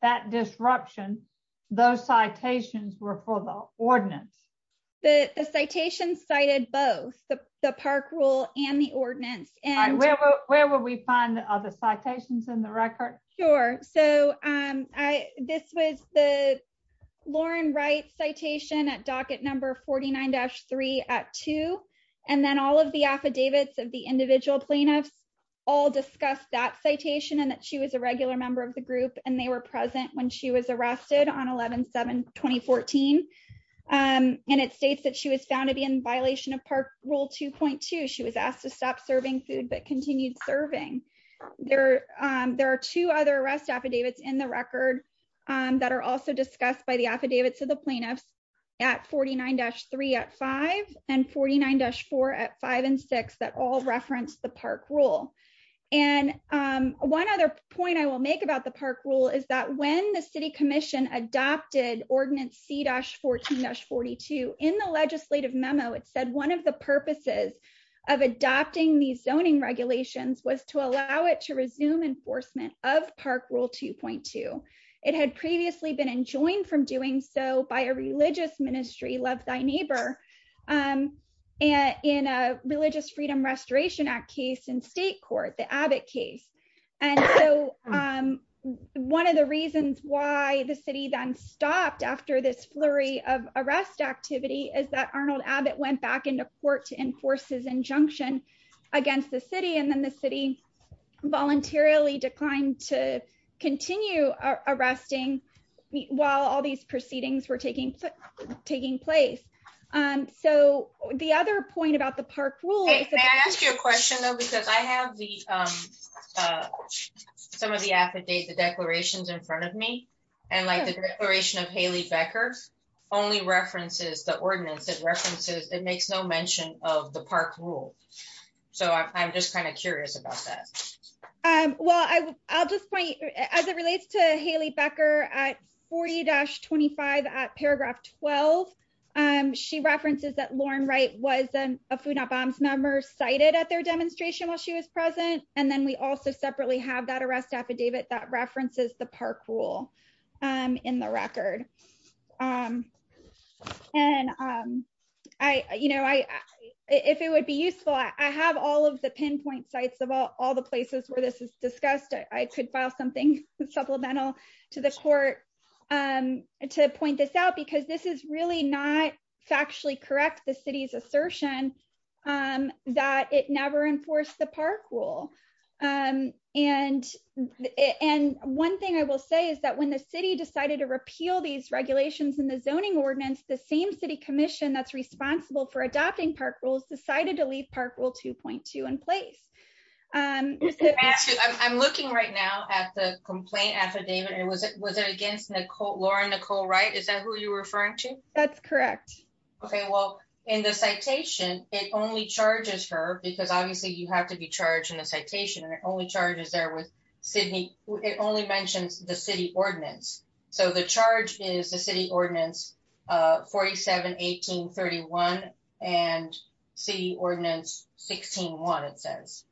that disruption those citations were for the ordinance the the citations cited both the the park rule and the ordinance and where where will we find the other citations in the record sure so um i this was the lauren wright citation at docket number 49-3 at two and then all of the affidavits of the individual plaintiffs all discussed that citation and that she was a regular member of the group and they were present when she was arrested on 11 7 2014 um and it states that she was found to be in violation of park rule 2.2 she was asked to stop serving food but continued serving there um there are two other arrest affidavits in the record um that are also discussed by the affidavits of the plaintiffs at 49-3 at five and 49-4 at five and six that all reference the park rule and um one other point i will make about the park rule is that when the city commission adopted ordinance c-14-42 in the legislative memo it said one of the purposes of adopting these zoning regulations was to allow it to resume enforcement of park rule 2.2 it had previously been enjoined from doing so by a religious ministry love thy neighbor um and in a religious freedom restoration act case in state court the abbott case and so um one of the reasons why the city then stopped after this flurry of arrest activity is that arnold abbott went back into court to enforce his injunction against the city and then the city voluntarily declined to continue arresting while all these proceedings were taking taking place um so the other point about the park rule may i ask you a question though because i have the um uh some of the affidavit declarations in front of me and like the declaration of hayley becker only references the ordinance it references it makes no mention of the park rule so i'm just kind of curious about that um well i i'll just point as it relates to hayley becker at 40-25 at paragraph 12 um she references that lauren right was a food not bombs member cited at their demonstration while she was present and then we also separately have that arrest affidavit that references the park rule um in the record um and um i you know i if it would be useful i have all of the pinpoint sites of all all the places where this is discussed i could file something supplemental to the court um to point this out because this is really not factually correct the city's assertion um that it never enforced the park rule um and and one thing i will say is that when the city decided to repeal these regulations in the zoning ordinance the same city commission that's responsible for adopting park rules decided to leave park rule 2.2 in place um i'm looking right now at the complaint affidavit and was it was it against nicole lauren nicole right is that who you're referring to that's correct okay well in the citation it only charges her because obviously you have to be charged in the citation and it only charges there sydney it only mentions the city ordinance so the charge is the city ordinance uh 47 1831 and city ordinance 16 one it says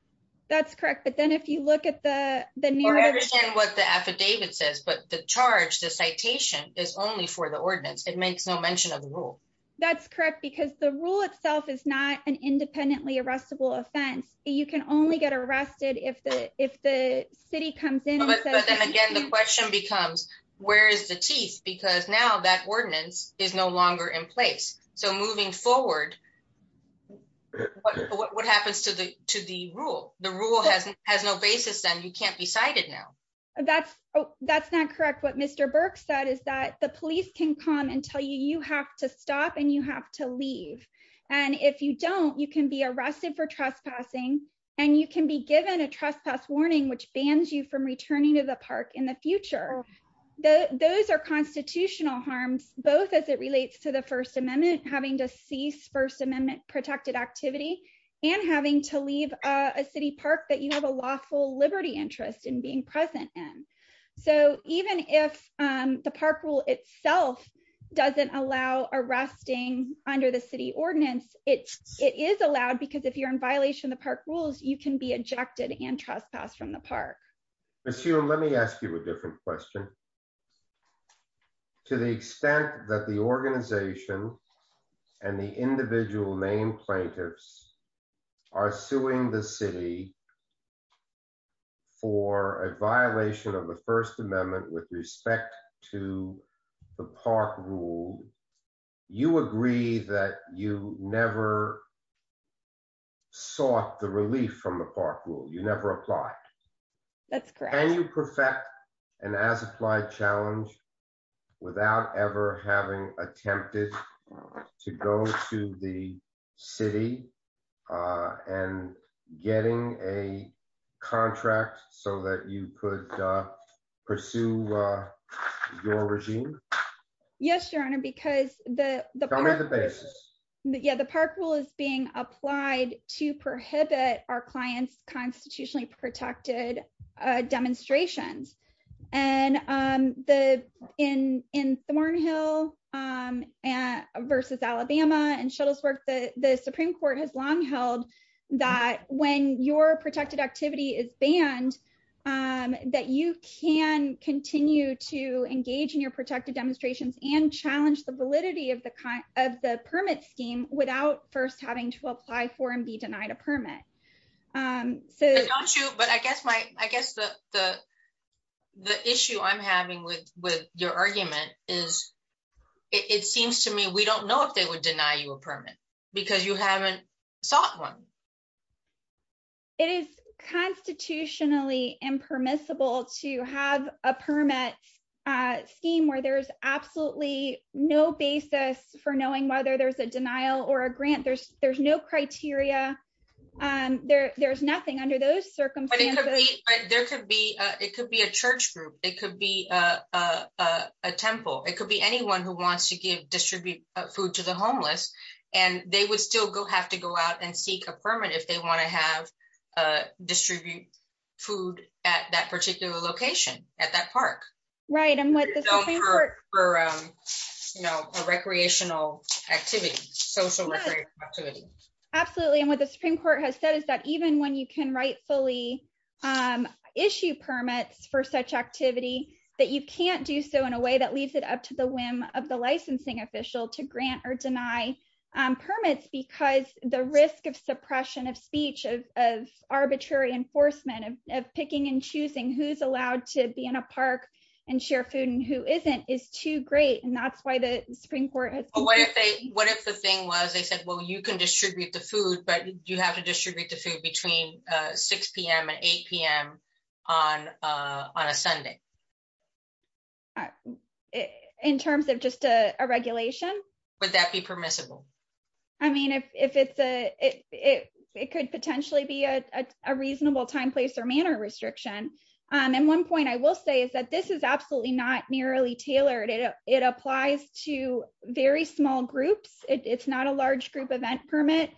that's correct but then if you look at the the what the affidavit says but the charge the citation is only for the ordinance it makes no mention of the rule that's correct because the rule itself is not an independently arrestable city comes in but then again the question becomes where is the teeth because now that ordinance is no longer in place so moving forward what what happens to the to the rule the rule hasn't has no basis then you can't be cited now that's that's not correct what mr burke said is that the police can come and tell you you have to stop and you have to leave and if you don't you can be arrested for trespassing and you can be given a trespass warning which bans you from returning to the park in the future the those are constitutional harms both as it relates to the first amendment having to cease first amendment protected activity and having to leave a city park that you have a lawful liberty interest in being present in so even if um the park rule itself doesn't allow arresting the city ordinance it's it is allowed because if you're in violation of the park rules you can be ejected and trespassed from the park monsieur let me ask you a different question to the extent that the organization and the individual main plaintiffs are suing the city for a violation of the first amendment with respect to the park rule you agree that you never sought the relief from the park rule you never applied that's correct can you perfect an as-applied challenge without ever having attempted to go to the city uh and getting a contract so that you could pursue uh your regime yes your honor because the the basis yeah the park rule is being applied to prohibit our clients constitutionally protected uh demonstrations and um the in in thornhill um and versus alabama and shuttle's work the the supreme court has long held that when your protected activity is banned um that you can continue to engage in your protected demonstrations and challenge the validity of the kind of the permit scheme without first having to apply for and be denied a permit um so don't you but i guess my i guess the the the issue i'm having with with your argument is it seems to me we don't know if they would deny you a permit because you haven't sought one it is constitutionally impermissible to have a permit uh scheme where there's absolutely no basis for knowing whether there's a denial or a grant there's there's no criteria um there there's nothing under those circumstances there could be uh it could be a church group it could be a a a temple it could be anyone who wants to give distribute food to the homeless and they would still go have to go out and seek a permit if they want to have uh distribute food at that particular location at that park right and what for um you know a recreational activity social activity absolutely and what the supreme court has said is that even when you can rightfully um issue permits for such activity that you can't do so in a way that leaves it up to the whim of the licensing official to grant or deny um permits because the risk of suppression of speech of of arbitrary enforcement of picking and choosing who's allowed to be in a park and share food and who isn't is too great and that's why the supreme court has what if they what if the thing was they said well you can distribute the food but you have to distribute the food between uh 6 p.m and 8 p.m on uh on a sunday in terms of just a regulation would that be permissible i mean if if it's a it it could potentially be a a reasonable time place or manner restriction um and one point i will say is that this is absolutely not nearly tailored it it applies to very small groups it's not a large group event permit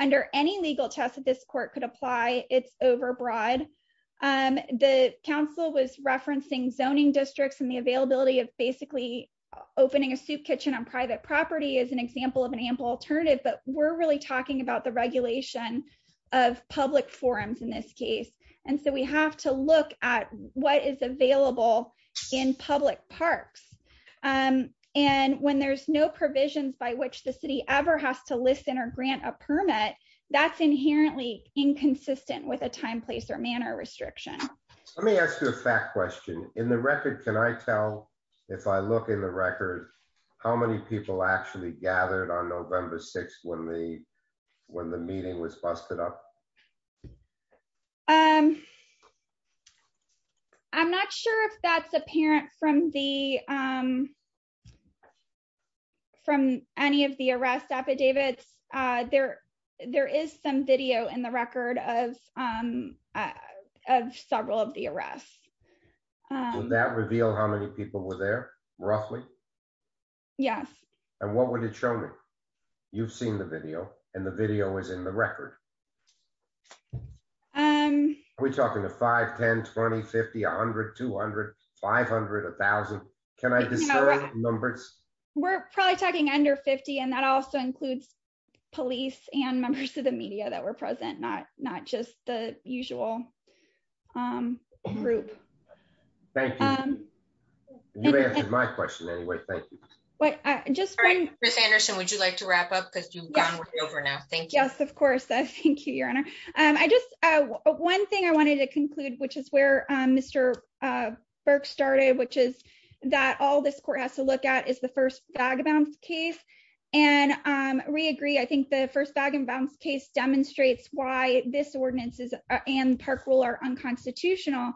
under any legal test that this court could apply it's overbroad um the council was referencing zoning districts and the availability of basically opening a soup kitchen on private property is an example of an ample alternative but we're really talking about the regulation of public forums in this case and so we have to look at what is available in public parks um and when there's no provisions by which the city ever has to listen or grant a permit that's inherently inconsistent with a time place or manner restriction let me ask you a fact question in the record can i tell if i look in the record how many people actually gathered on the meeting was busted up um i'm not sure if that's apparent from the um from any of the arrest affidavits uh there there is some video in the record of um of several of the arrests would that reveal how many people were there roughly yes and what would show me you've seen the video and the video is in the record um are we talking to five ten twenty fifty a hundred two hundred five hundred a thousand can i discern numbers we're probably talking under 50 and that also includes police and members of the media that were present not not just the usual um group thank you um you answered my question anyway thank you uh just right chris anderson would you like to wrap up because you've gone way over now thank you yes of course thank you your honor um i just uh one thing i wanted to conclude which is where um mr uh burke started which is that all this court has to look at is the first vagabonds case and um we agree i think the first bag and bounce case demonstrates why this ordinance is and park rule are unconstitutional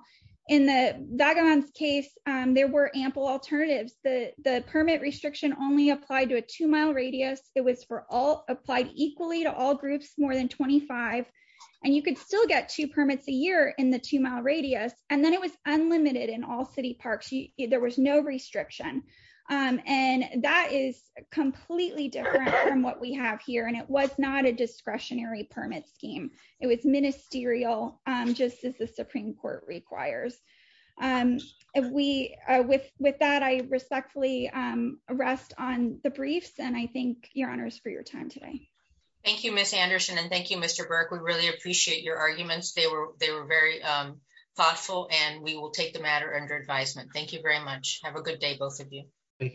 in the vagabonds case um there were ample alternatives the the permit restriction only applied to a two-mile radius it was for all applied equally to all groups more than 25 and you could still get two permits a year in the two-mile radius and then it was unlimited in all city parks there was no restriction um and that is completely different from what we have here and it was not a discretionary permit scheme it was ministerial just as the supreme court requires um and we uh with with that i respectfully um rest on the briefs and i thank your honors for your time today thank you miss anderson and thank you mr burke we really appreciate your arguments they were they were very um thoughtful and we will take the matter under advisement thank you very much have a good day both of you thank you